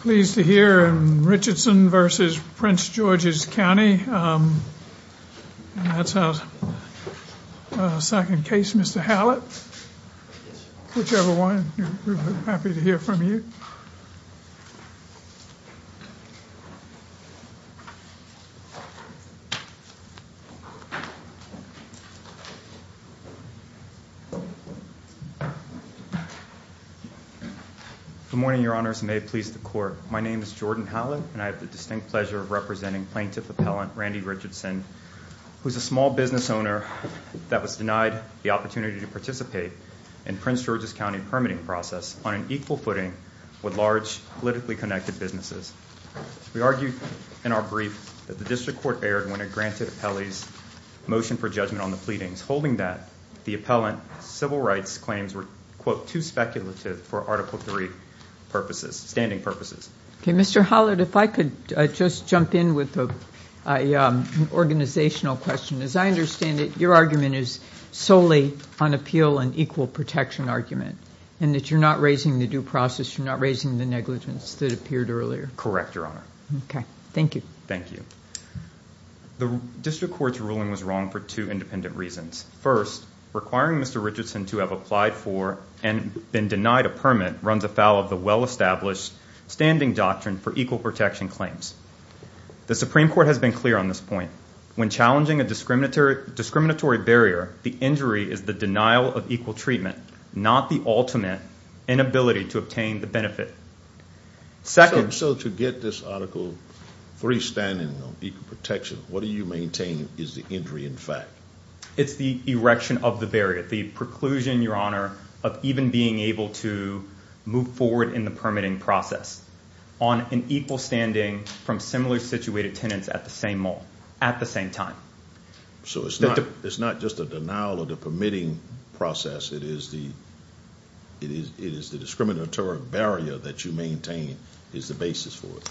Pleased to hear in Richardson v. Prince George's County. That's a second case Mr. Hallett. Whichever one, we're happy to hear from you. Good morning, your honors, and may it please the court. My name is Jordan Hallett, and I have the distinct pleasure of representing plaintiff appellant Randy Richardson, who's a small business owner that was denied the opportunity to participate in Prince George's County permitting process on an equal footing with large politically connected businesses. We argued in our brief that the district court erred when it granted appellee's motion for judgment on the pleadings. Holding that, the appellant's civil rights claims were, quote, too speculative for Article 3 purposes, standing purposes. Mr. Hallett, if I could just jump in with an organizational question. As I understand it, your argument is solely on appeal and equal protection argument, and that you're not raising the due process, you're not raising the negligence that appeared earlier. Correct, your honor. Okay, thank you. Thank you. The district court's ruling was wrong for two independent reasons. First, requiring Mr. Richardson to have applied for and been denied a permit runs afoul of the well-established standing doctrine for equal protection claims. The Supreme Court has been clear on this point. When challenging a discriminatory barrier, the injury is the denial of equal treatment, not the ultimate inability to obtain the benefit. So to get this Article 3 standing on equal protection, what do you maintain is the injury in fact? It's the erection of the barrier, the preclusion, your honor, of even being able to move forward in the permitting process on an equal standing from similar situated tenants at the same mall, at the same time. So it's not just a denial of the permitting process, it is the discriminatory barrier that you maintain is the basis for it.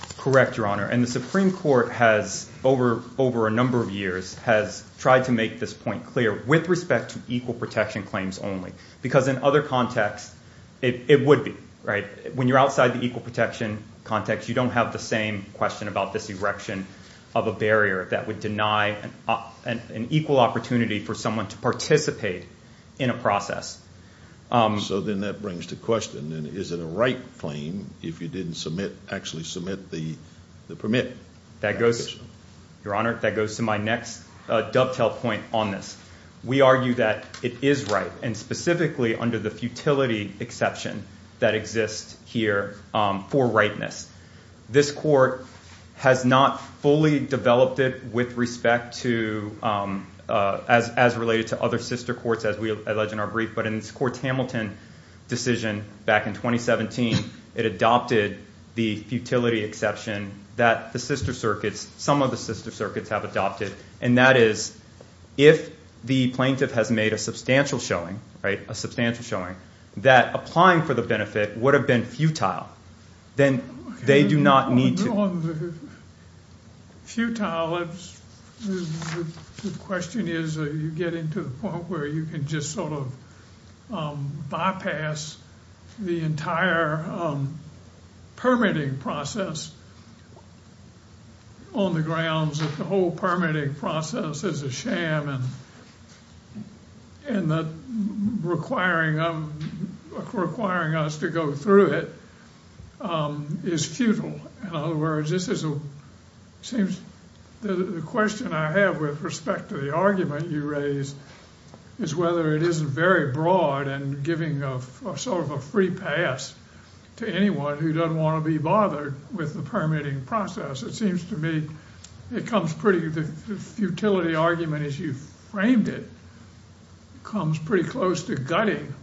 So then that brings to question, is it a right claim if you didn't actually submit the permit? Your honor, that goes to my next dovetail point on this. We argue that it is right, and specifically under the futility exception that exists here for rightness. This court has not fully developed it with respect to, as related to other sister courts as we allege in our brief, but in this Court's Hamilton decision back in 2017, it adopted the futility exception that the sister circuits, some of the sister circuits have adopted. And that is, if the plaintiff has made a substantial showing, right, a substantial showing, that applying for the benefit would have been futile. On the futile, the question is, are you getting to the point where you can just sort of bypass the entire permitting process on the grounds that the whole permitting process is a sham and requiring us to go through it? Is futile. In other words, this is a, seems, the question I have with respect to the argument you raised is whether it isn't very broad and giving a sort of a free pass to anyone who doesn't want to be bothered with the permitting process. It seems to me it comes pretty, the futility argument as you framed it, comes pretty close to gutting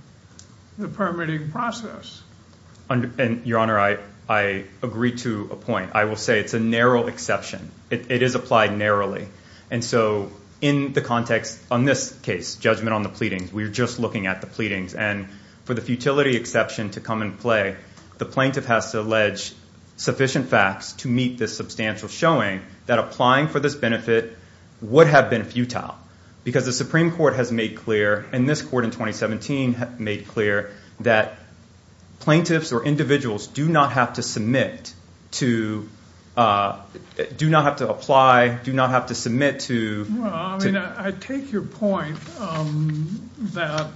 the permitting process. Your Honor, I agree to a point. I will say it's a narrow exception. It is applied narrowly. And so in the context on this case, judgment on the pleadings, we're just looking at the pleadings. And for the futility exception to come in play, the plaintiff has to allege sufficient facts to meet this substantial showing that applying for this benefit would have been futile. Because the Supreme Court has made clear, and this court in 2017 made clear, that plaintiffs or individuals do not have to submit to, do not have to apply, do not have to submit to. Well, I mean, I take your point that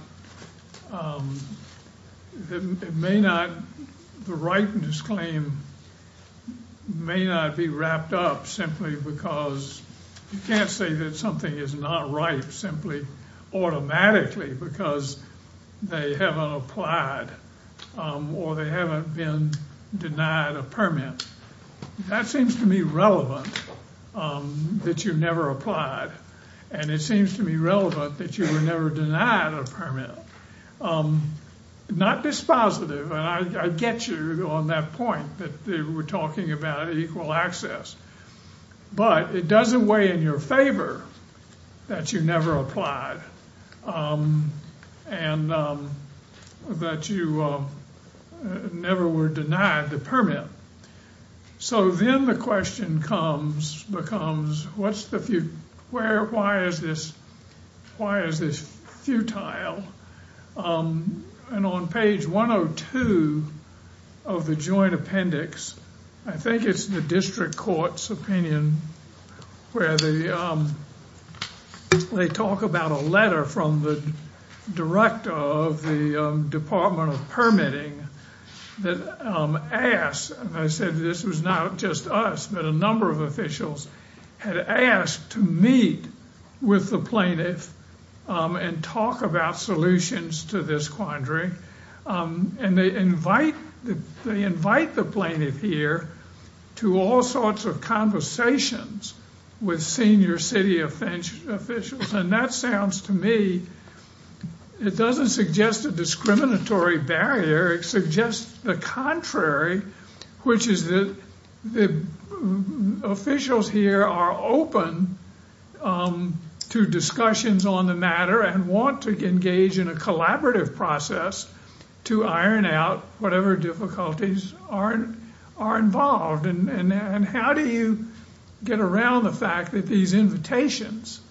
it may not, the ripeness claim may not be wrapped up simply because, you can't say that something is not ripe simply automatically because they haven't applied or they haven't been denied a permit. That seems to me relevant, that you never applied. And it seems to me relevant that you were never denied a permit. Not dispositive, and I get you on that point that we're talking about equal access. But it doesn't weigh in your favor that you never applied and that you never were denied the permit. So then the question becomes, why is this futile? And on page 102 of the joint appendix, I think it's the district court's opinion where they talk about a letter from the director of the Department of Permitting that asks, and I said this was not just us, but a number of officials had asked to meet with the plaintiff and talk about solutions to this quandary. And they invite the plaintiff here to all sorts of conversations with senior city officials. And that sounds to me, it doesn't suggest a discriminatory barrier, it suggests the contrary, which is that the officials here are open to discussions on the matter and want to engage in a collaborative process to iron out whatever difficulties are involved. And how do you get around the fact that these invitations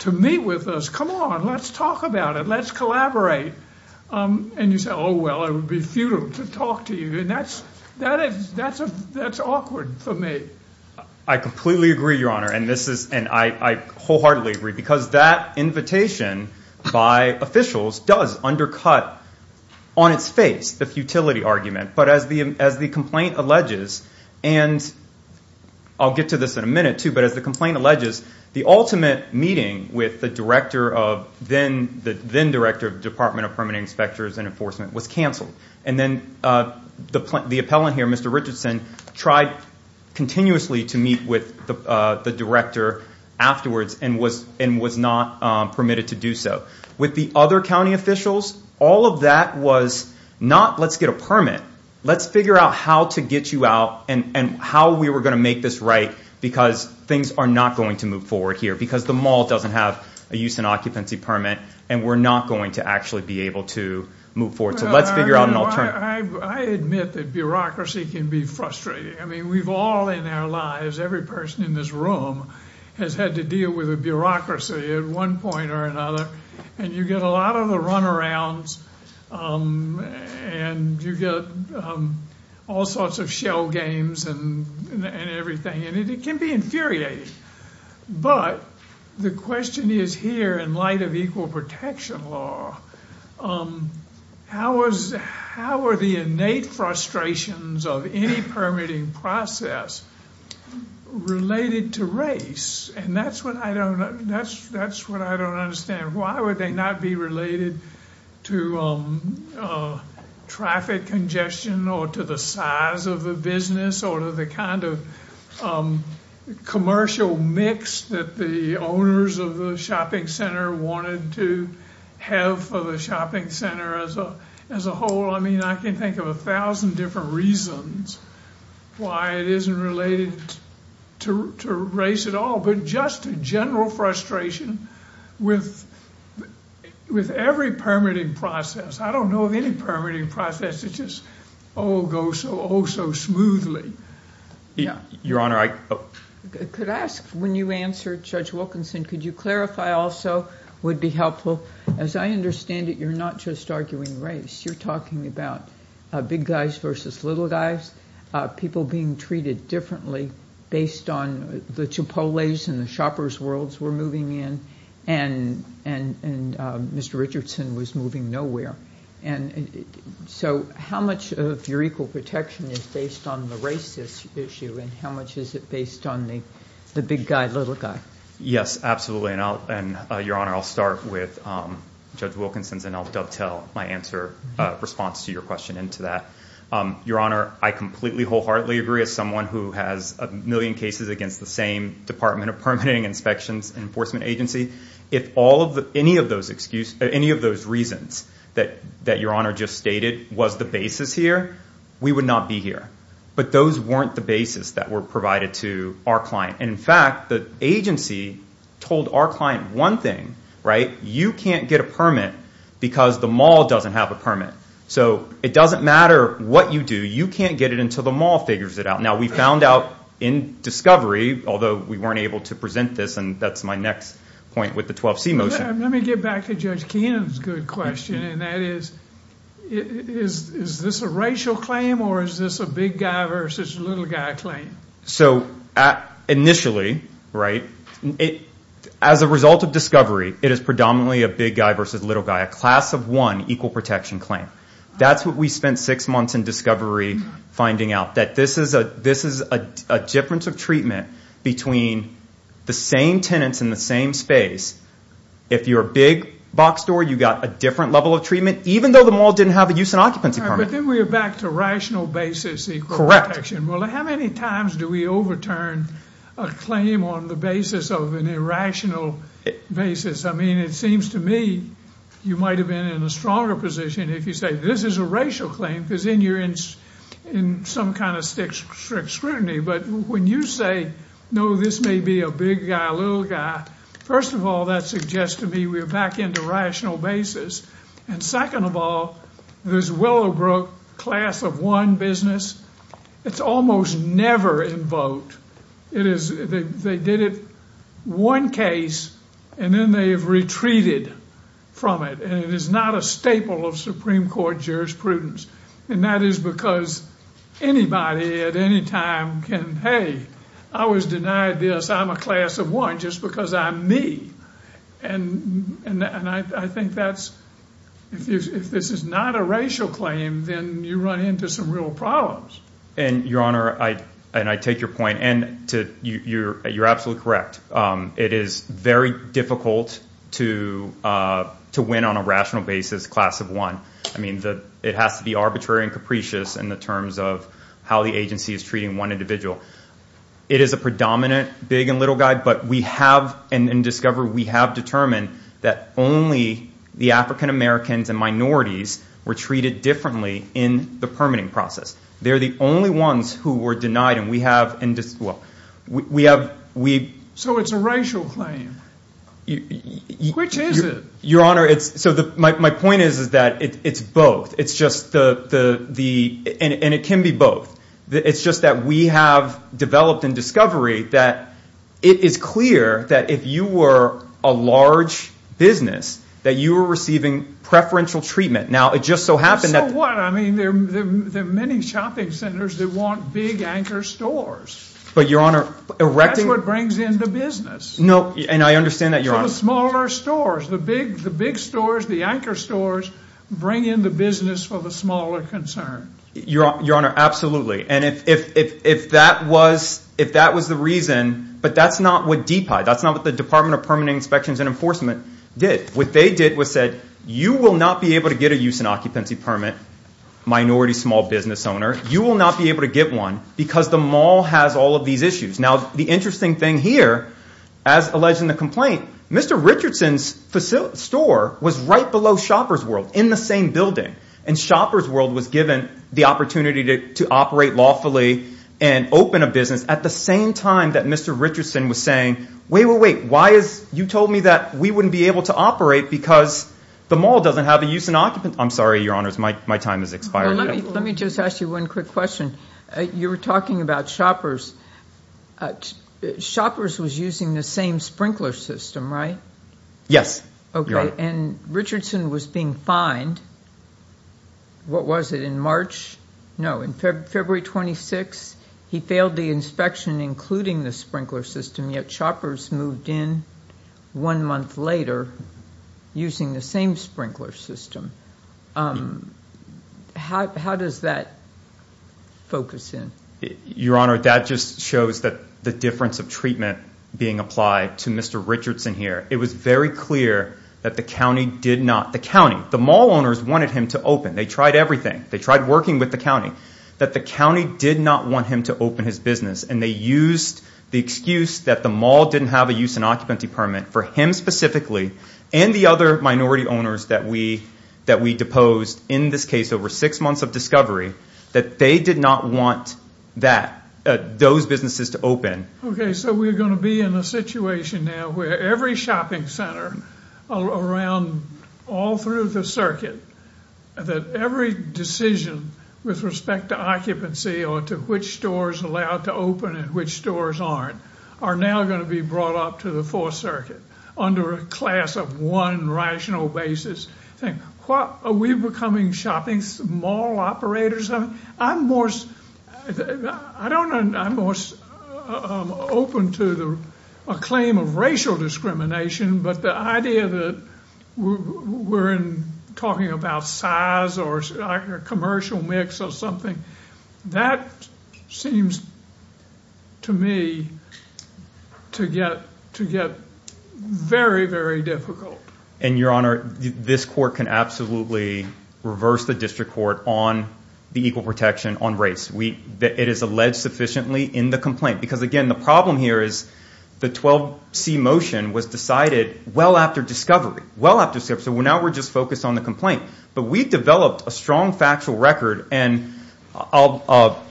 to meet with us, come on, let's talk about it, let's collaborate, and you say, oh, well, it would be futile to talk to you. And that's awkward for me. I completely agree, Your Honor, and I wholeheartedly agree, because that invitation by officials does undercut, on its face, the futility argument. But as the complaint alleges, and I'll get to this in a minute too, but as the complaint alleges, the ultimate meeting with the then director of Department of Permitting Inspectors and Enforcement was canceled. And then the appellant here, Mr. Richardson, tried continuously to meet with the director afterwards and was not permitted to do so. With the other county officials, all of that was not, let's get a permit, let's figure out how to get you out and how we were going to make this right, because things are not going to move forward here. Because the mall doesn't have a use and occupancy permit, and we're not going to actually be able to move forward. So let's figure out an alternative. I admit that bureaucracy can be frustrating. I mean, we've all in our lives, every person in this room has had to deal with a bureaucracy at one point or another. And you get a lot of the runarounds, and you get all sorts of shell games and everything, and it can be infuriating. But the question is here, in light of equal protection law, how are the innate frustrations of any permitting process related to race? And that's what I don't understand. Why would they not be related to traffic congestion or to the size of the business or to the kind of commercial mix that the owners of the shopping center wanted to have for the shopping center as a whole? I mean, I can think of a thousand different reasons why it isn't related to race at all. But just a general frustration with every permitting process. I don't know of any permitting process that just, oh, goes so smoothly. Your Honor, I... Could I ask, when you answer Judge Wilkinson, could you clarify also, would be helpful, as I understand it, you're not just arguing race. You're talking about big guys versus little guys, people being treated differently based on the Chipotles and the shopper's worlds we're moving in, and Mr. Richardson was moving nowhere. And so how much of your equal protection is based on the racist issue, and how much is it based on the big guy, little guy? Yes, absolutely. And, Your Honor, I'll start with Judge Wilkinson's, and I'll dovetail my response to your question into that. Your Honor, I completely wholeheartedly agree, as someone who has a million cases against the same Department of Permitting, Inspections, and Enforcement agency, if any of those reasons that Your Honor just stated was the basis here, we would not be here. But those weren't the basis that were provided to our client. And in fact, the agency told our client one thing, right, you can't get a permit because the mall doesn't have a permit. So it doesn't matter what you do, you can't get it until the mall figures it out. Now we found out in discovery, although we weren't able to present this, and that's my next point with the 12C motion. Let me get back to Judge Keenan's good question, and that is, is this a racial claim, or is this a big guy versus little guy claim? So initially, right, as a result of discovery, it is predominantly a big guy versus little guy, a class of one equal protection claim. That's what we spent six months in discovery finding out, that this is a difference of treatment between the same tenants in the same space. If you're a big box store, you've got a different level of treatment, even though the mall didn't have a use and occupancy permit. But then we are back to rational basis equal protection. Well, how many times do we overturn a claim on the basis of an irrational basis? I mean, it seems to me you might have been in a stronger position if you say this is a racial claim, because then you're in some kind of strict scrutiny. But when you say, no, this may be a big guy, little guy, first of all, that suggests to me we are back into rational basis. And second of all, this Willowbrook class of one business, it's almost never invoked. They did it one case, and then they have retreated from it, and it is not a staple of Supreme Court jurisprudence. And that is because anybody at any time can, hey, I was denied this, I'm a class of one just because I'm me. And I think that's, if this is not a racial claim, then you run into some real problems. And, Your Honor, and I take your point, and you're absolutely correct. It is very difficult to win on a rational basis class of one. I mean, it has to be arbitrary and capricious in the terms of how the agency is treating one individual. It is a predominant big and little guy, but we have, and in DISCOVER, we have determined that only the African-Americans and minorities were treated differently in the permitting process. They're the only ones who were denied, and we have, well, we have— So it's a racial claim. Which is it? Your Honor, so my point is that it's both. It's just the—and it can be both. It's just that we have developed in DISCOVER that it is clear that if you were a large business that you were receiving preferential treatment. Now, it just so happened that— So what? I mean, there are many shopping centers that want big anchor stores. But, Your Honor, erecting— That's what brings in the business. No, and I understand that, Your Honor. So the smaller stores, the big stores, the anchor stores bring in the business for the smaller concerns. Your Honor, absolutely. And if that was the reason, but that's not what DPI, that's not what the Department of Permitting Inspections and Enforcement did. What they did was said, you will not be able to get a use and occupancy permit, minority small business owner. You will not be able to get one because the mall has all of these issues. Now, the interesting thing here, as alleged in the complaint, Mr. Richardson's store was right below Shopper's World in the same building. And Shopper's World was given the opportunity to operate lawfully and open a business at the same time that Mr. Richardson was saying, wait, wait, wait, why is—you told me that we wouldn't be able to operate because the mall doesn't have a use and occupancy— I'm sorry, Your Honors, my time has expired. Let me just ask you one quick question. You were talking about Shopper's. Shopper's was using the same sprinkler system, right? Yes, Your Honor. Okay, and Richardson was being fined. What was it, in March? No, in February 26, he failed the inspection, including the sprinkler system, yet Shopper's moved in one month later using the same sprinkler system. How does that focus in? Your Honor, that just shows the difference of treatment being applied to Mr. Richardson here. It was very clear that the county did not—the county, the mall owners wanted him to open. They tried everything. They tried working with the county. That the county did not want him to open his business, and they used the excuse that the mall didn't have a use and occupancy permit for him specifically and the other minority owners that we deposed, in this case over six months of discovery, that they did not want those businesses to open. Okay, so we're going to be in a situation now where every shopping center around, all through the circuit, that every decision with respect to occupancy or to which stores are allowed to open and which stores aren't, are now going to be brought up to the Fourth Circuit under a class of one rational basis. Are we becoming shopping mall operators? I'm more—I don't—I'm more open to a claim of racial discrimination, but the idea that we're talking about size or commercial mix or something, that seems to me to get very, very difficult. And, Your Honor, this court can absolutely reverse the district court on the equal protection on race. It is alleged sufficiently in the complaint because, again, the problem here is the 12C motion was decided well after discovery, well after discovery. So now we're just focused on the complaint. But we've developed a strong factual record, and the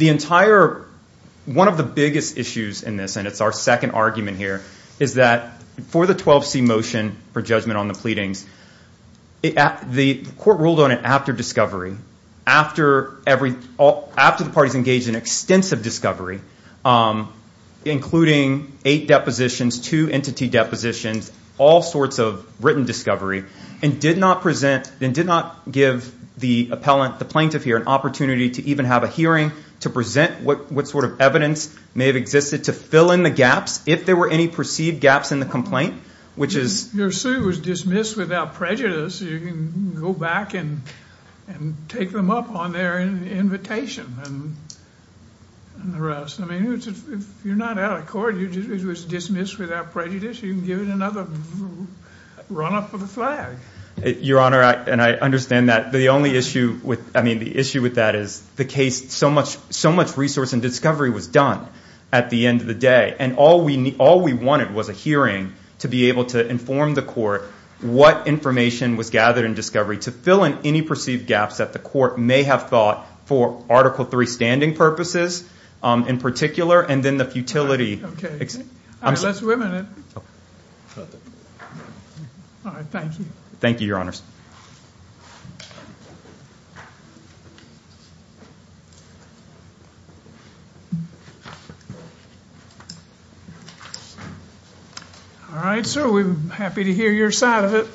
entire—one of the biggest issues in this, and it's our second argument here, is that for the 12C motion for judgment on the pleadings, the court ruled on it after discovery, after the parties engaged in extensive discovery, including eight depositions, two entity depositions, all sorts of written discovery, and did not present—and did not give the appellant, the plaintiff here, an opportunity to even have a hearing to present what sort of evidence may have existed to fill in the gaps, if there were any perceived gaps in the complaint, which is— I mean, if you're not out of court, it was dismissed without prejudice. You can give it another run-up of the flag. Your Honor, and I understand that. The only issue with—I mean, the issue with that is the case—so much resource and discovery was done at the end of the day, and all we wanted was a hearing to be able to inform the court what information was gathered in discovery to fill in any perceived gaps that the court may have thought, for Article III standing purposes in particular, and then the futility— All right, let's wait a minute. All right, thank you. Thank you, Your Honors. All right, sir, we're happy to hear your side of it.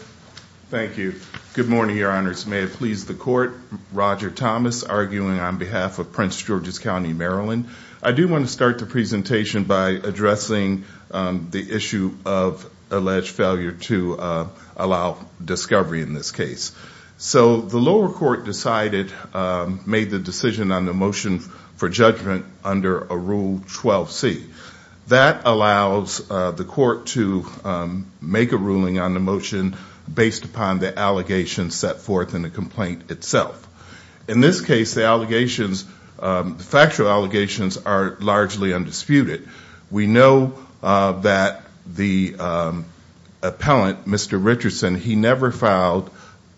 Thank you. Good morning, Your Honors. May it please the Court. Roger Thomas, arguing on behalf of Prince George's County, Maryland. I do want to start the presentation by addressing the issue of alleged failure to allow discovery in this case. So the lower court decided—made the decision on the motion for judgment under Rule 12c. That allows the court to make a ruling on the motion based upon the allegations set forth in the complaint itself. In this case, the allegations—the factual allegations are largely undisputed. We know that the appellant, Mr. Richardson, he never filed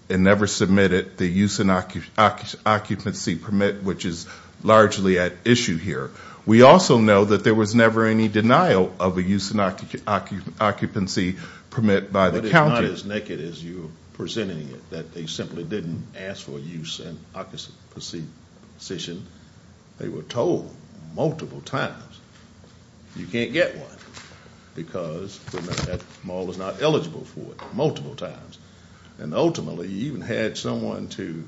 and never submitted the use and occupancy permit, which is largely at issue here. We also know that there was never any denial of a use and occupancy permit by the county. But it's not as naked as you're presenting it, that they simply didn't ask for a use and occupancy position. They were told multiple times, you can't get one because that mall is not eligible for it, multiple times. And ultimately, you even had someone who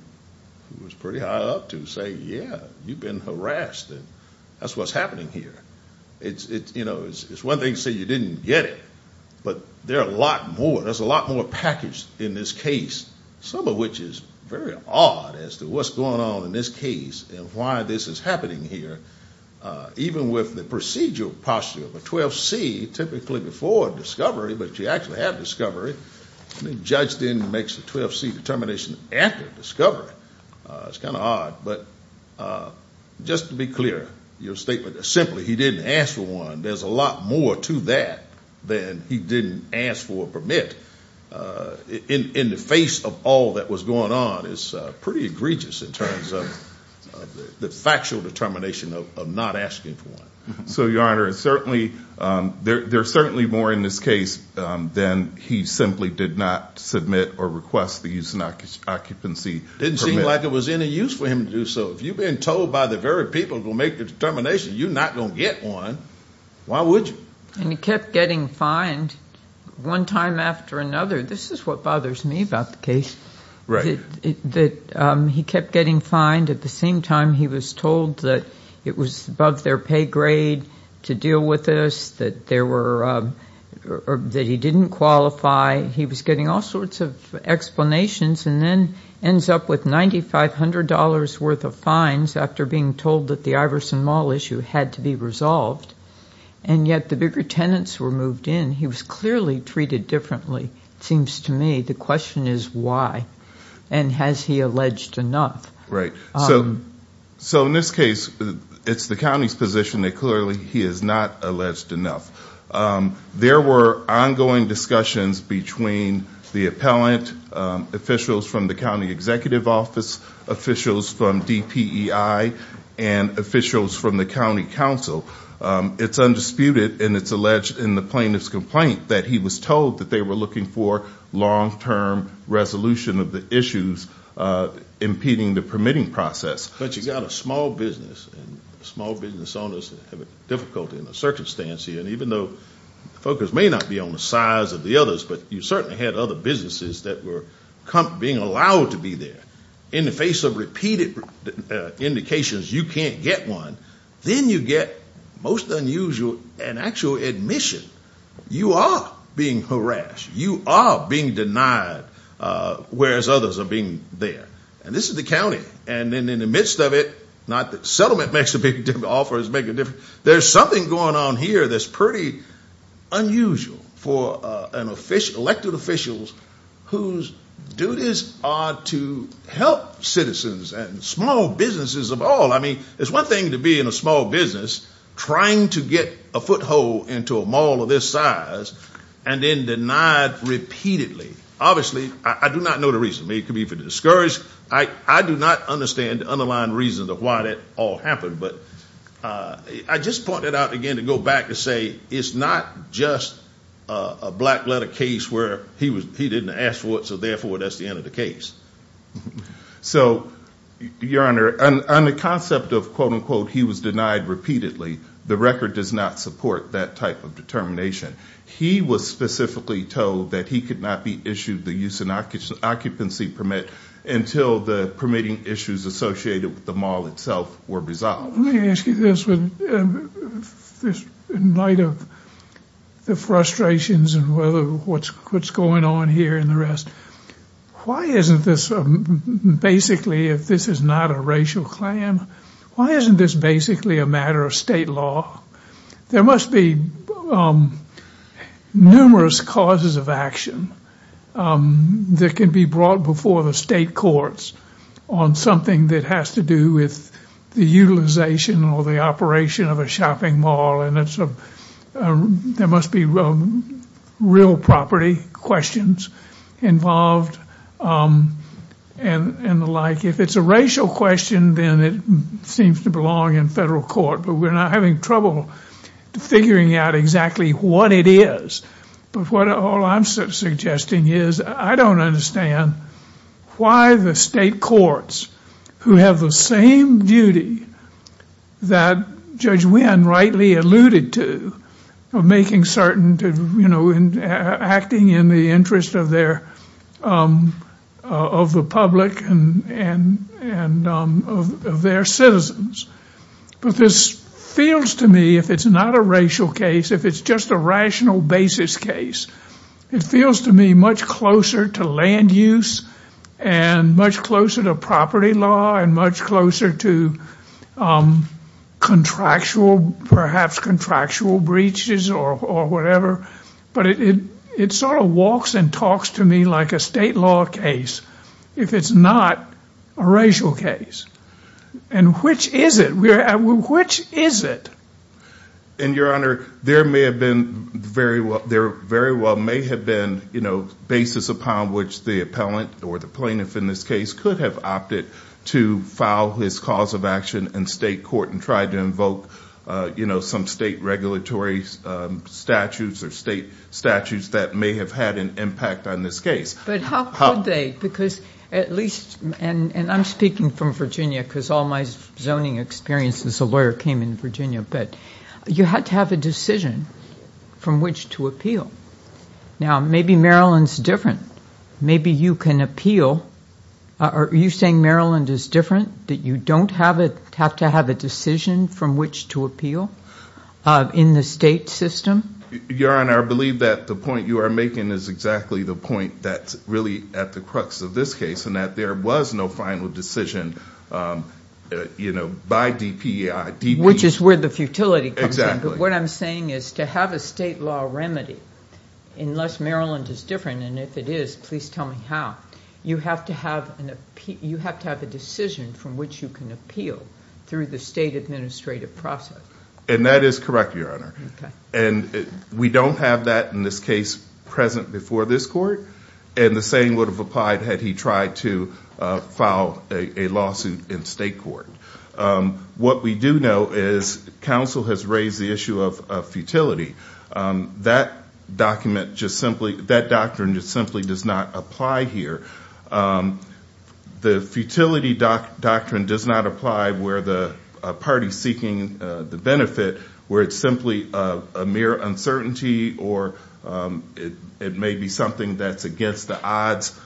was pretty high up to say, yeah, you've been harassed, and that's what's happening here. It's one thing to say you didn't get it, but there are a lot more. There's a lot more packaged in this case, some of which is very odd as to what's going on in this case and why this is happening here. Even with the procedural posture of a 12c, typically before discovery, but you actually have discovery, and the judge then makes a 12c determination after discovery. It's kind of odd, but just to be clear, your statement that simply he didn't ask for one, there's a lot more to that than he didn't ask for a permit, in the face of all that was going on, is pretty egregious in terms of the factual determination of not asking for one. So, Your Honor, there's certainly more in this case than he simply did not submit or request the use of an occupancy permit. It didn't seem like it was any use for him to do so. If you've been told by the very people who make the determination you're not going to get one, why would you? And he kept getting fined one time after another. This is what bothers me about the case, that he kept getting fined. At the same time, he was told that it was above their pay grade to deal with this, that he didn't qualify. He was getting all sorts of explanations and then ends up with $9,500 worth of fines after being told that the Iverson Mall issue had to be resolved, and yet the bigger tenants were moved in. He was clearly treated differently, it seems to me. The question is why, and has he alleged enough? Right. So in this case, it's the county's position that clearly he has not alleged enough. There were ongoing discussions between the appellant, officials from the county executive office, officials from DPEI, and officials from the county council. It's undisputed, and it's alleged in the plaintiff's complaint, that he was told that they were looking for long-term resolution of the issues impeding the permitting process. But you've got a small business, and small business owners have difficulty in the circumstance here. And even though the focus may not be on the size of the others, but you certainly had other businesses that were being allowed to be there. In the face of repeated indications you can't get one, then you get most unusual an actual admission. You are being harassed, you are being denied, whereas others are being there. And this is the county, and in the midst of it, not that settlement makes a big difference, offers make a difference, there's something going on here that's pretty unusual for elected officials whose duties are to help citizens and small businesses of all. I mean, it's one thing to be in a small business trying to get a foothold into a mall of this size, and then denied repeatedly. Obviously, I do not know the reason. It could be for discourage. I do not understand the underlying reasons of why that all happened. But I just point that out again to go back to say it's not just a black letter case where he didn't ask for it, so therefore that's the end of the case. So, Your Honor, on the concept of quote-unquote he was denied repeatedly, the record does not support that type of determination. He was specifically told that he could not be issued the use and occupancy permit until the permitting issues associated with the mall itself were resolved. Let me ask you this in light of the frustrations and what's going on here and the rest. Why isn't this basically, if this is not a racial claim, why isn't this basically a matter of state law? There must be numerous causes of action that can be brought before the state courts on something that has to do with the utilization or the operation of a shopping mall, and there must be real property questions involved and the like. If it's a racial question, then it seems to belong in federal court, but we're not having trouble figuring out exactly what it is. But what all I'm suggesting is I don't understand why the state courts, who have the same duty that Judge Wynn rightly alluded to, of making certain to, you know, acting in the interest of the public and of their citizens. But this feels to me, if it's not a racial case, if it's just a rational basis case, it feels to me much closer to land use and much closer to property law and much closer to contractual, perhaps contractual breaches or whatever. But it sort of walks and talks to me like a state law case if it's not a racial case. And which is it? Which is it? And, Your Honor, there may have been very well, there very well may have been, you know, basis upon which the appellant or the plaintiff in this case could have opted to file his cause of action in state court and tried to invoke, you know, some state regulatory statutes or state statutes that may have had an impact on this case. But how could they? Because at least, and I'm speaking from Virginia because all my zoning experience as a lawyer came in Virginia, but you had to have a decision from which to appeal. Now, maybe Maryland's different. Maybe you can appeal. Are you saying Maryland is different, that you don't have to have a decision from which to appeal in the state system? Your Honor, I believe that the point you are making is exactly the point that's really at the crux of this case, and that there was no final decision, you know, by DPEI. Which is where the futility comes in. Exactly. But what I'm saying is to have a state law remedy, unless Maryland is different, and if it is, please tell me how, you have to have a decision from which you can appeal through the state administrative process. And that is correct, Your Honor. Okay. And we don't have that in this case present before this court, and the same would have applied had he tried to file a lawsuit in state court. What we do know is counsel has raised the issue of futility. That document just simply, that doctrine just simply does not apply here. The futility doctrine does not apply where the party is seeking the benefit, where it's simply a mere uncertainty or it may be something that's against the odds,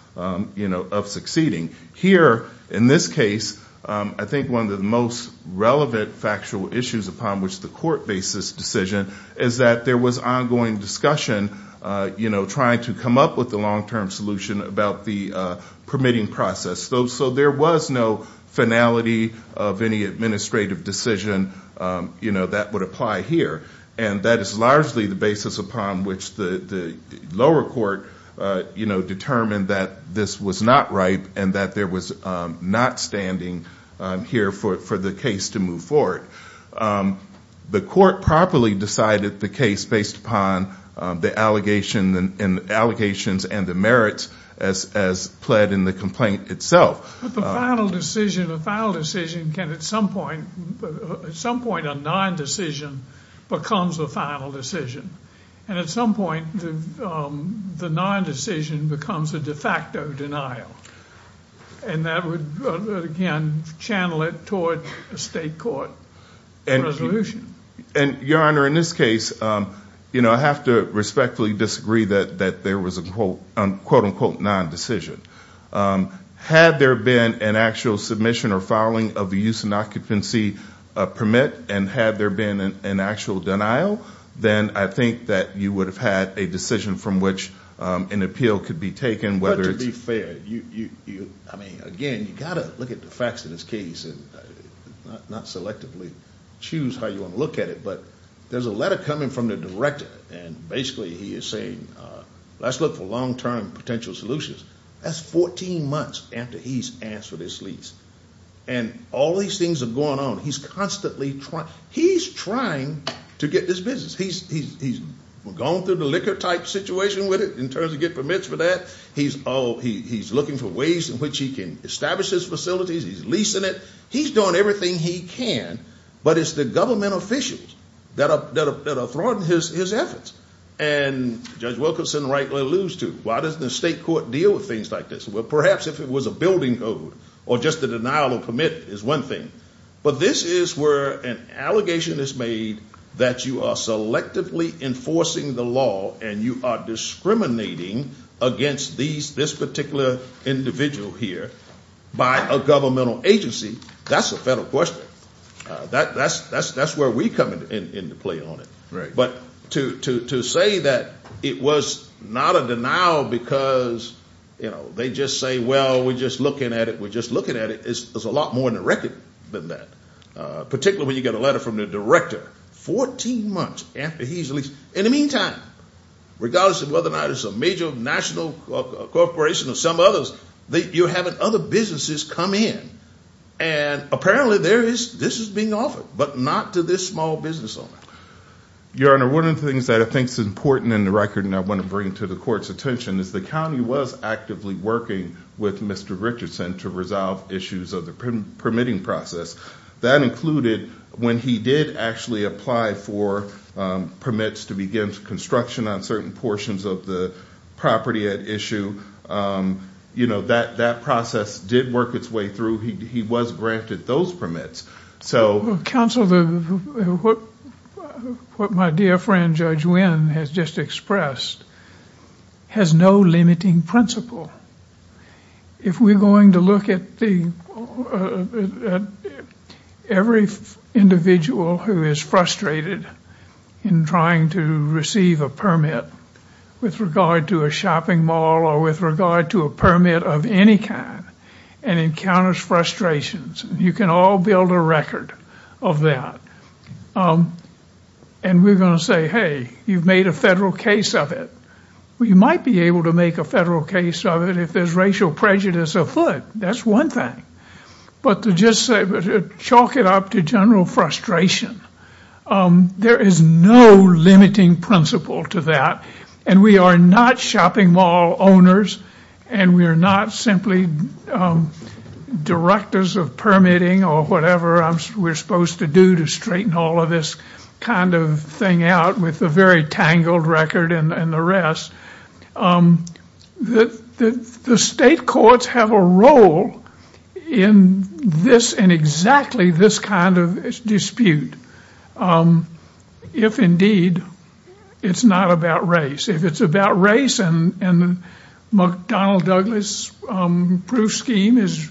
you know, of succeeding. Here, in this case, I think one of the most relevant factual issues upon which the court bases decision, is that there was ongoing discussion, you know, trying to come up with a long-term solution about the permitting process. So there was no finality of any administrative decision, you know, that would apply here. And that is largely the basis upon which the lower court, you know, determined that this was not right and that there was not standing here for the case to move forward. The court properly decided the case based upon the allegations and the merits as pled in the complaint itself. But the final decision, a final decision can at some point, at some point a non-decision becomes a final decision. And at some point the non-decision becomes a de facto denial. And that would, again, channel it toward a state court resolution. And, Your Honor, in this case, you know, I have to respectfully disagree that there was a quote-unquote non-decision. Had there been an actual submission or filing of the use and occupancy permit and had there been an actual denial, then I think that you would have had a decision from which an appeal could be taken whether it's I mean, again, you've got to look at the facts of this case and not selectively choose how you want to look at it. But there's a letter coming from the director. And basically he is saying, let's look for long-term potential solutions. That's 14 months after he's asked for this lease. And all these things are going on. He's constantly trying. He's trying to get this business. He's gone through the liquor type situation with it in terms of getting permits for that. He's looking for ways in which he can establish his facilities. He's leasing it. He's doing everything he can. But it's the government officials that are thwarting his efforts. And Judge Wilkinson rightly alludes to, why doesn't the state court deal with things like this? Well, perhaps if it was a building code or just a denial of permit is one thing. But this is where an allegation is made that you are selectively enforcing the law and you are discriminating against this particular individual here by a governmental agency. That's a federal question. That's where we come into play on it. But to say that it was not a denial because, you know, they just say, well, we're just looking at it, is a lot more in the record than that, particularly when you get a letter from the director 14 months after he's leased. In the meantime, regardless of whether or not it's a major national corporation or some others, you're having other businesses come in. And apparently this is being offered, but not to this small business owner. Your Honor, one of the things that I think is important in the record and I want to bring to the court's attention is the county was actively working with Mr. Richardson to resolve issues of the permitting process. That included when he did actually apply for permits to begin construction on certain portions of the property at issue. You know, that process did work its way through. He was granted those permits. Counsel, what my dear friend Judge Wynn has just expressed has no limiting principle. If we're going to look at every individual who is frustrated in trying to receive a permit with regard to a shopping mall or with regard to a permit of any kind and encounters frustrations, you can all build a record of that. And we're going to say, hey, you've made a federal case of it. Well, you might be able to make a federal case of it if there's racial prejudice afoot. That's one thing. But to just chalk it up to general frustration, there is no limiting principle to that. And we are not shopping mall owners and we are not simply directors of permitting or whatever we're supposed to do to straighten all of this kind of thing out with a very tangled record and the rest. The state courts have a role in this and exactly this kind of dispute. If indeed it's not about race, if it's about race and McDonnell Douglas proof scheme is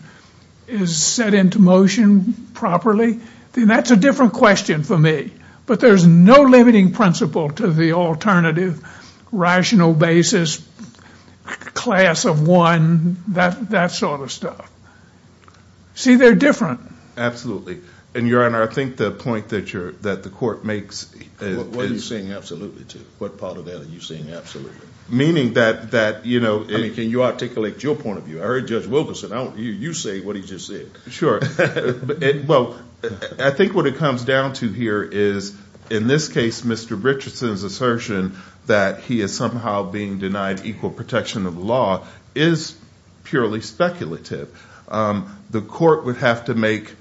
set into motion properly, then that's a different question for me. But there's no limiting principle to the alternative rational basis, class of one, that sort of stuff. See, they're different. And Your Honor, I think the point that the court makes is What are you saying absolutely to? What part of that are you saying absolutely? Meaning that, you know, can you articulate your point of view? I heard Judge Wilkerson. You say what he just said. Sure. Well, I think what it comes down to here is, in this case, Mr. Richardson's assertion that he is somehow being denied equal protection of the law is purely speculative. The court would have to make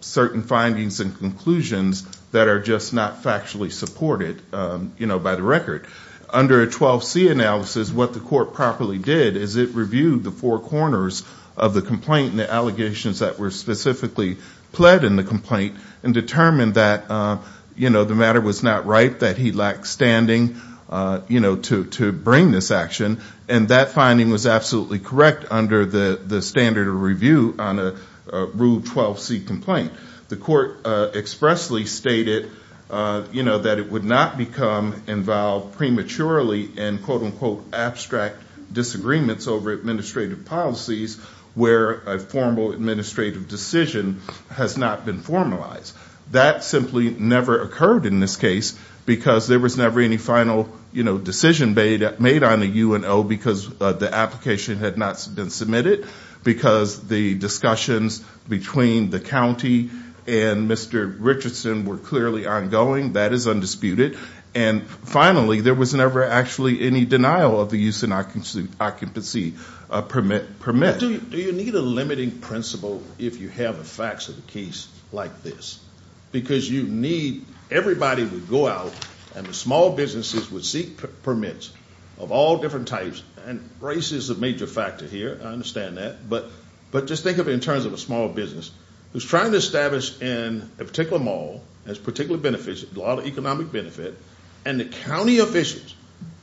certain findings and conclusions that are just not factually supported by the record. Under a 12C analysis, what the court properly did is it reviewed the four corners of the complaint and the allegations that were specifically pled in the complaint and determined that, you know, the matter was not right, that he lacked standing, you know, to bring this action. And that finding was absolutely correct under the standard of review on a Rule 12C complaint. The court expressly stated, you know, that it would not become involved prematurely in quote, unquote, abstract disagreements over administrative policies where a formal administrative decision has not been formalized. That simply never occurred in this case because there was never any final, you know, decision made on the UNO because the application had not been submitted, because the discussions between the county and Mr. Richardson were clearly ongoing. That is undisputed. And finally, there was never actually any denial of the use and occupancy permit. Do you need a limiting principle if you have a facts of the case like this? Because you need – everybody would go out and the small businesses would seek permits of all different types. And race is a major factor here. I understand that. But just think of it in terms of a small business who's trying to establish in a particular mall that's particularly beneficial, a lot of economic benefit, and the county officials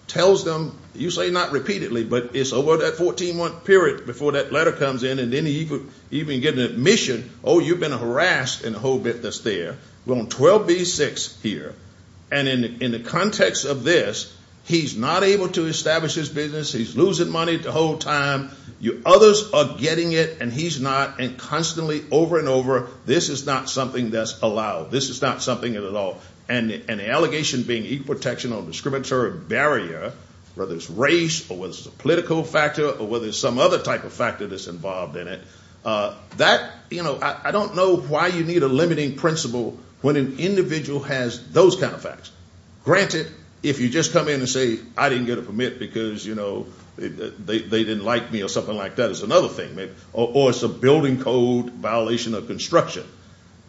tells them, you say not repeatedly, but it's over that 14-month period before that letter comes in and then you even get an admission, oh, you've been harassed and the whole bit that's there. We're on 12B6 here. And in the context of this, he's not able to establish his business. He's losing money the whole time. Others are getting it, and he's not. And constantly over and over, this is not something that's allowed. This is not something at all. And the allegation being equal protection on a discriminatory barrier, whether it's race or whether it's a political factor or whether it's some other type of factor that's involved in it, that, you know, I don't know why you need a limiting principle when an individual has those kind of facts. Granted, if you just come in and say I didn't get a permit because, you know, they didn't like me or something like that is another thing. Or it's a building code violation of construction.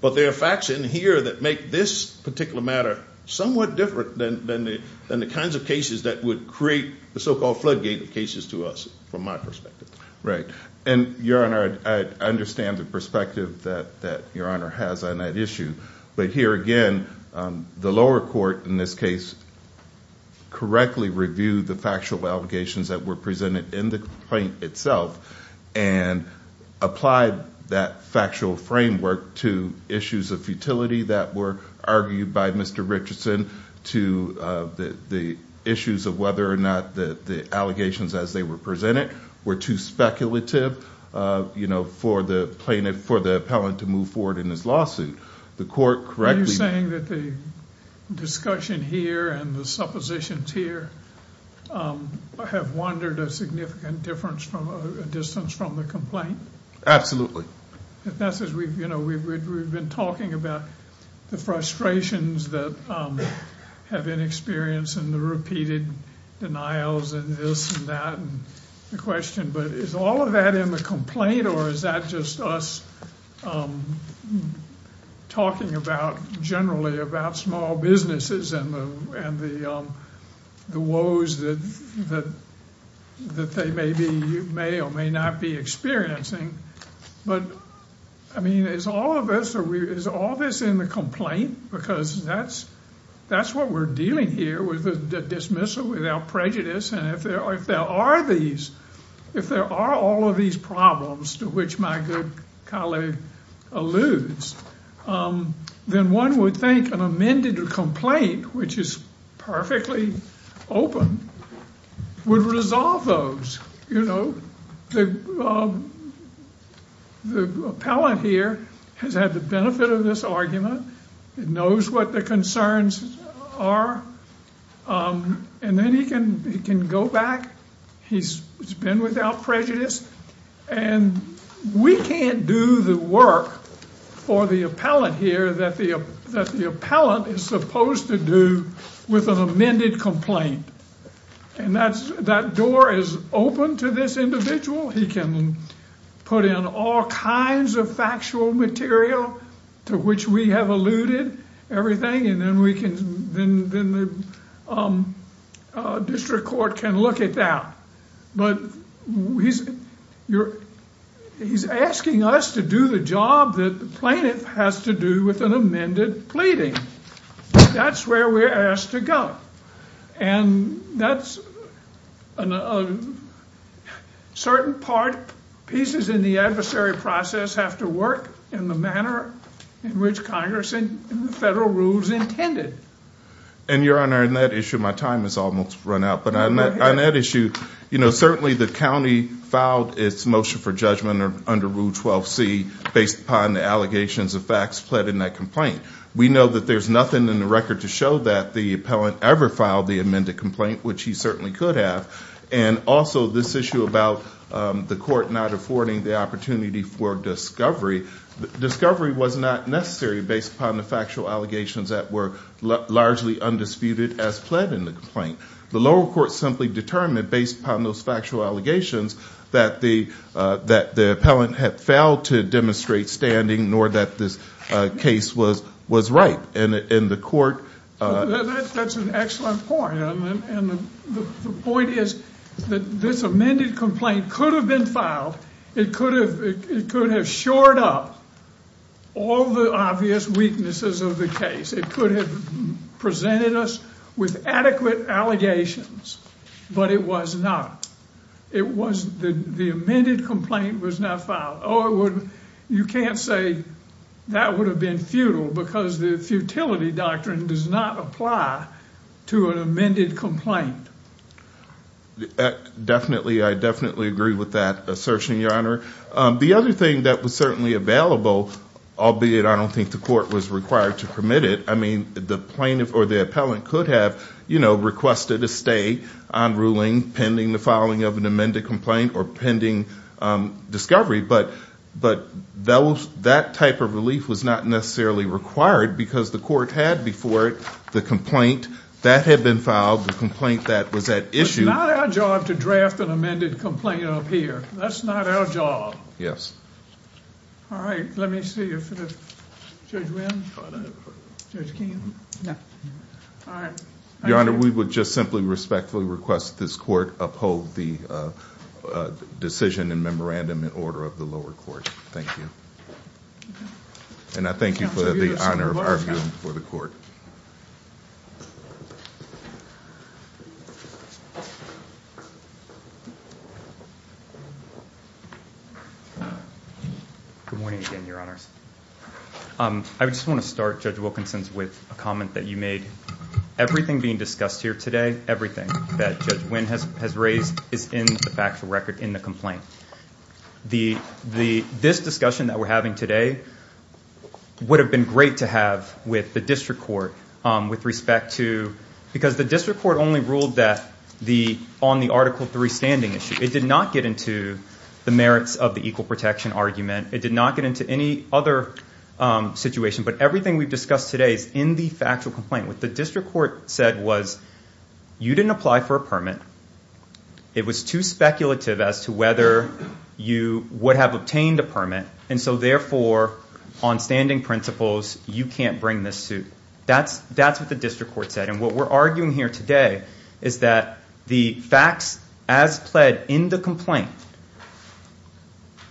But there are facts in here that make this particular matter somewhat different than the kinds of cases that would create the so-called floodgate cases to us from my perspective. Right. And, Your Honor, I understand the perspective that Your Honor has on that issue. But here again, the lower court in this case correctly reviewed the factual allegations that were presented in the complaint itself and applied that factual framework to issues of futility that were argued by Mr. Richardson to the issues of whether or not the allegations as they were presented were too speculative, you know, for the plaintiff, for the appellant to move forward in his lawsuit. The court correctly- Have wondered a significant difference from a distance from the complaint? That's as we've, you know, we've been talking about the frustrations that have been experienced and the repeated denials and this and that and the question. But is all of that in the complaint or is that just us talking about generally about small businesses and the woes that they may be, may or may not be experiencing? But, I mean, is all of this in the complaint? Because that's what we're dealing here with a dismissal without prejudice. And if there are these, if there are all of these problems to which my good colleague alludes, then one would think an amended complaint, which is perfectly open, would resolve those. You know, the appellant here has had the benefit of this argument. He knows what the concerns are and then he can go back. He's been without prejudice and we can't do the work for the appellant here that the appellant is supposed to do with an amended complaint. And that's, that door is open to this individual. He can put in all kinds of factual material to which we have alluded everything and then we can, then the district court can look at that. But he's asking us to do the job that the plaintiff has to do with an amended pleading. That's where we're asked to go. And that's a certain part, pieces in the adversary process have to work in the manner in which Congress and the federal rules intended. And, Your Honor, on that issue, my time has almost run out. But on that issue, you know, certainly the county filed its motion for judgment under Rule 12c based upon the allegations of facts pled in that complaint. We know that there's nothing in the record to show that the appellant ever filed the amended complaint, which he certainly could have. And also this issue about the court not affording the opportunity for discovery. Discovery was not necessary based upon the factual allegations that were largely undisputed as pled in the complaint. The lower court simply determined based upon those factual allegations that the appellant had failed to demonstrate standing nor that this case was right. And the court. That's an excellent point. And the point is that this amended complaint could have been filed. It could have shored up all the obvious weaknesses of the case. It could have presented us with adequate allegations. But it was not. The amended complaint was not filed. You can't say that would have been futile because the futility doctrine does not apply to an amended complaint. Definitely, I definitely agree with that assertion, Your Honor. The other thing that was certainly available, albeit I don't think the court was required to permit it, I mean, the plaintiff or the appellant could have, you know, requested a stay on ruling pending the filing of an amended complaint or pending discovery. But that type of relief was not necessarily required because the court had before it the complaint that had been filed, the complaint that was at issue. It's not our job to draft an amended complaint up here. That's not our job. Yes. All right. Let me see if Judge Wynn, Judge Keenan. All right. Your Honor, we would just simply respectfully request this court uphold the decision and memorandum in order of the lower court. Thank you. And I thank you for the honor of arguing for the court. Good morning again, Your Honors. I just want to start, Judge Wilkinson, with a comment that you made. Everything being discussed here today, everything that Judge Wynn has raised is in the factual record in the complaint. This discussion that we're having today would have been great to have with the district court with respect to because the district court only ruled on the Article III standing issue. It did not get into the merits of the equal protection argument. It did not get into any other situation. But everything we've discussed today is in the factual complaint. What the district court said was you didn't apply for a permit. It was too speculative as to whether you would have obtained a permit. And so, therefore, on standing principles, you can't bring this suit. That's what the district court said. And what we're arguing here today is that the facts as pled in the complaint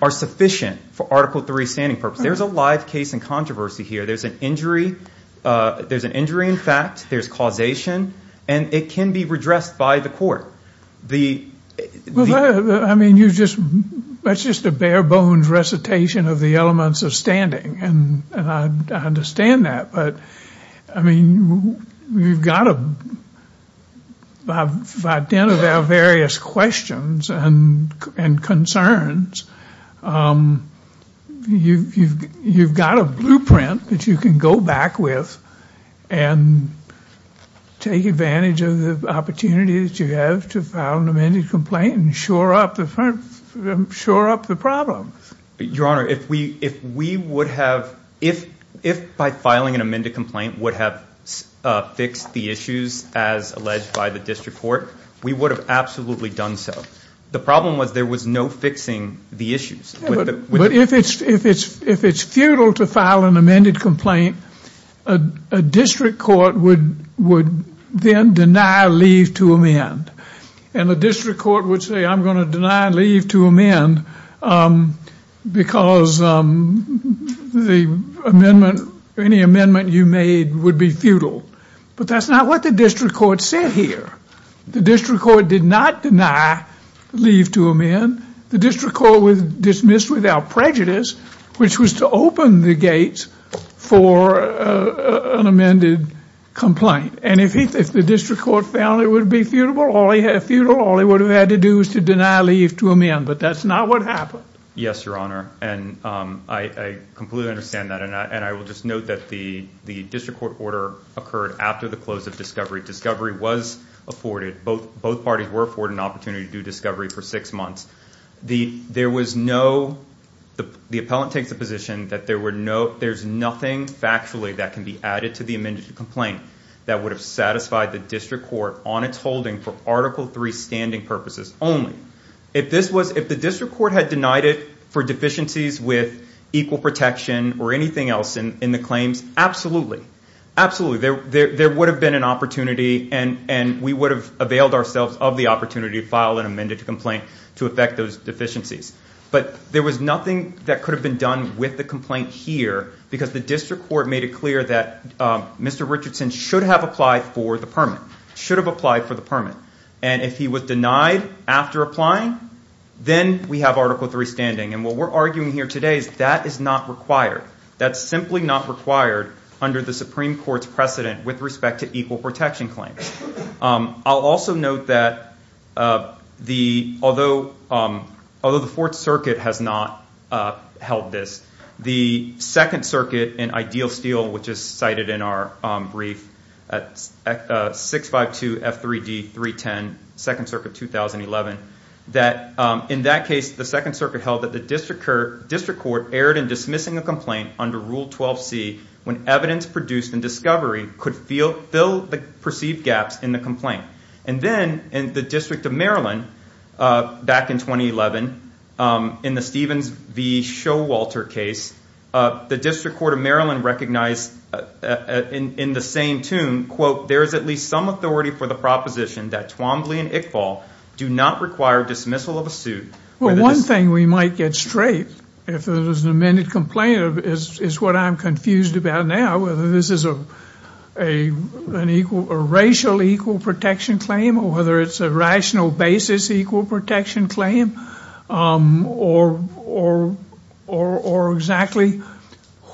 are sufficient for Article III standing purposes. There's a live case in controversy here. There's an injury. There's an injury in fact. There's causation. And it can be redressed by the court. That's just a bare-bones recitation of the elements of standing, and I understand that. But, I mean, we've got to identify various questions and concerns. You've got a blueprint that you can go back with and take advantage of the opportunities you have to file an amended complaint and shore up the problem. Your Honor, if we would have, if by filing an amended complaint would have fixed the issues as alleged by the district court, we would have absolutely done so. The problem was there was no fixing the issues. But if it's futile to file an amended complaint, a district court would then deny leave to amend. And the district court would say, I'm going to deny leave to amend because the amendment, any amendment you made would be futile. But that's not what the district court said here. The district court did not deny leave to amend. The district court was dismissed without prejudice, which was to open the gates for an amended complaint. And if the district court found it would be futile, all they would have had to do was to deny leave to amend. But that's not what happened. Yes, Your Honor, and I completely understand that. And I will just note that the district court order occurred after the close of discovery. Discovery was afforded. Both parties were afforded an opportunity to do discovery for six months. The appellant takes the position that there's nothing factually that can be added to the amended complaint that would have satisfied the district court on its holding for Article III standing purposes only. If the district court had denied it for deficiencies with equal protection or anything else in the claims, absolutely. Absolutely. There would have been an opportunity and we would have availed ourselves of the opportunity to file an amended complaint to affect those deficiencies. But there was nothing that could have been done with the complaint here because the district court made it clear that Mr. Richardson should have applied for the permit, should have applied for the permit. And if he was denied after applying, then we have Article III standing. And what we're arguing here today is that is not required. That's simply not required under the Supreme Court's precedent with respect to equal protection claims. I'll also note that although the Fourth Circuit has not held this, the Second Circuit in Ideal Steel, which is cited in our brief at 652 F3D 310, Second Circuit 2011, that in that case the Second Circuit held that the district court erred in dismissing a complaint under Rule 12C when evidence produced in discovery could fill the perceived gaps in the complaint. And then in the District of Maryland back in 2011, in the Stevens v. Showalter case, the District Court of Maryland recognized in the same tune, quote, there is at least some authority for the proposition that Twombly and Iqbal do not require dismissal of a suit. Well, one thing we might get straight if there was an amended complaint is what I'm confused about now, whether this is a racial equal protection claim or whether it's a rational basis equal protection claim or exactly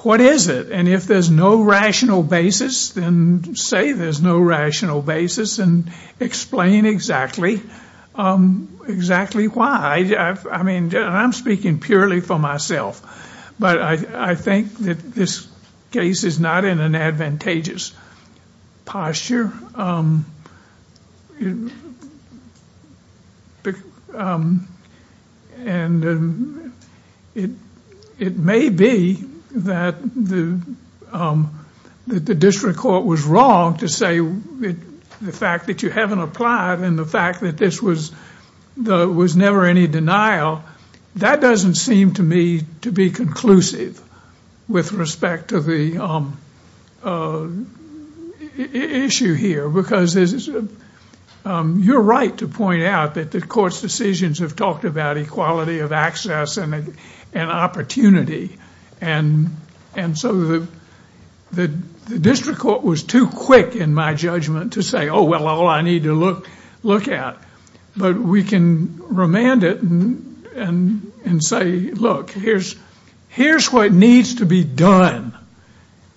what is it? And if there's no rational basis, then say there's no rational basis and explain exactly why. I mean, I'm speaking purely for myself, but I think that this case is not in an advantageous posture. And it may be that the district court was wrong to say the fact that you haven't applied and the fact that this was never any denial. Now, that doesn't seem to me to be conclusive with respect to the issue here because you're right to point out that the court's decisions have talked about equality of access and opportunity. And so the district court was too quick in my judgment to say, oh, well, all I need to look at. But we can remand it and say, look, here's what needs to be done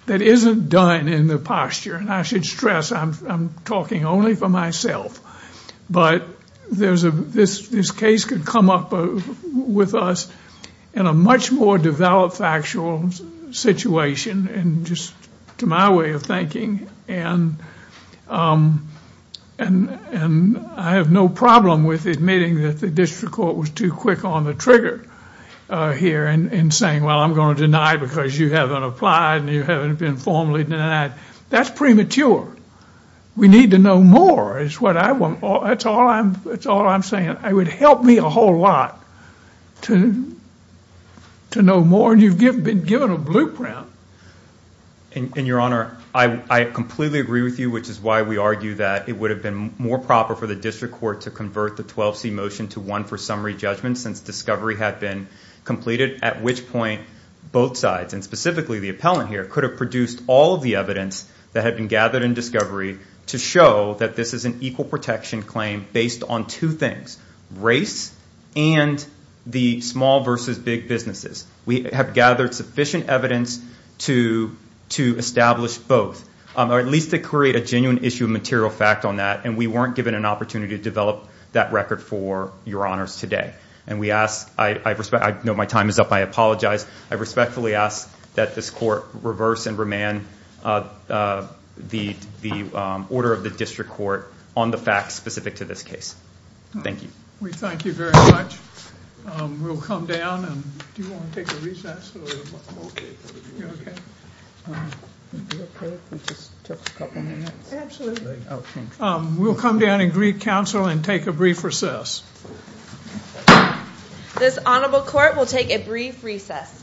that isn't done in the posture. And I should stress I'm talking only for myself, but this case could come up with us in a much more developed factual situation and just to my way of thinking. And I have no problem with admitting that the district court was too quick on the trigger here and saying, well, I'm going to deny it because you haven't applied and you haven't been formally denied. That's premature. We need to know more is what I want. That's all I'm saying. It would help me a whole lot to know more. And you've been given a blueprint. And, Your Honor, I completely agree with you, which is why we argue that it would have been more proper for the district court to convert the 12C motion to one for summary judgment since discovery had been completed, at which point both sides, and specifically the appellant here, could have produced all of the evidence that had been gathered in discovery to show that this is an equal protection claim based on two things, race and the small versus big businesses. We have gathered sufficient evidence to establish both, or at least to create a genuine issue of material fact on that. And we weren't given an opportunity to develop that record for Your Honors today. I know my time is up. I apologize. I respectfully ask that this court reverse and remand the order of the district court on the facts specific to this case. Thank you. We thank you very much. We'll come down. Do you want to take a recess? I'm OK. You're OK? Would it be OK if we just took a couple minutes? Absolutely. We'll come down and greet counsel and take a brief recess. This honorable court will take a brief recess.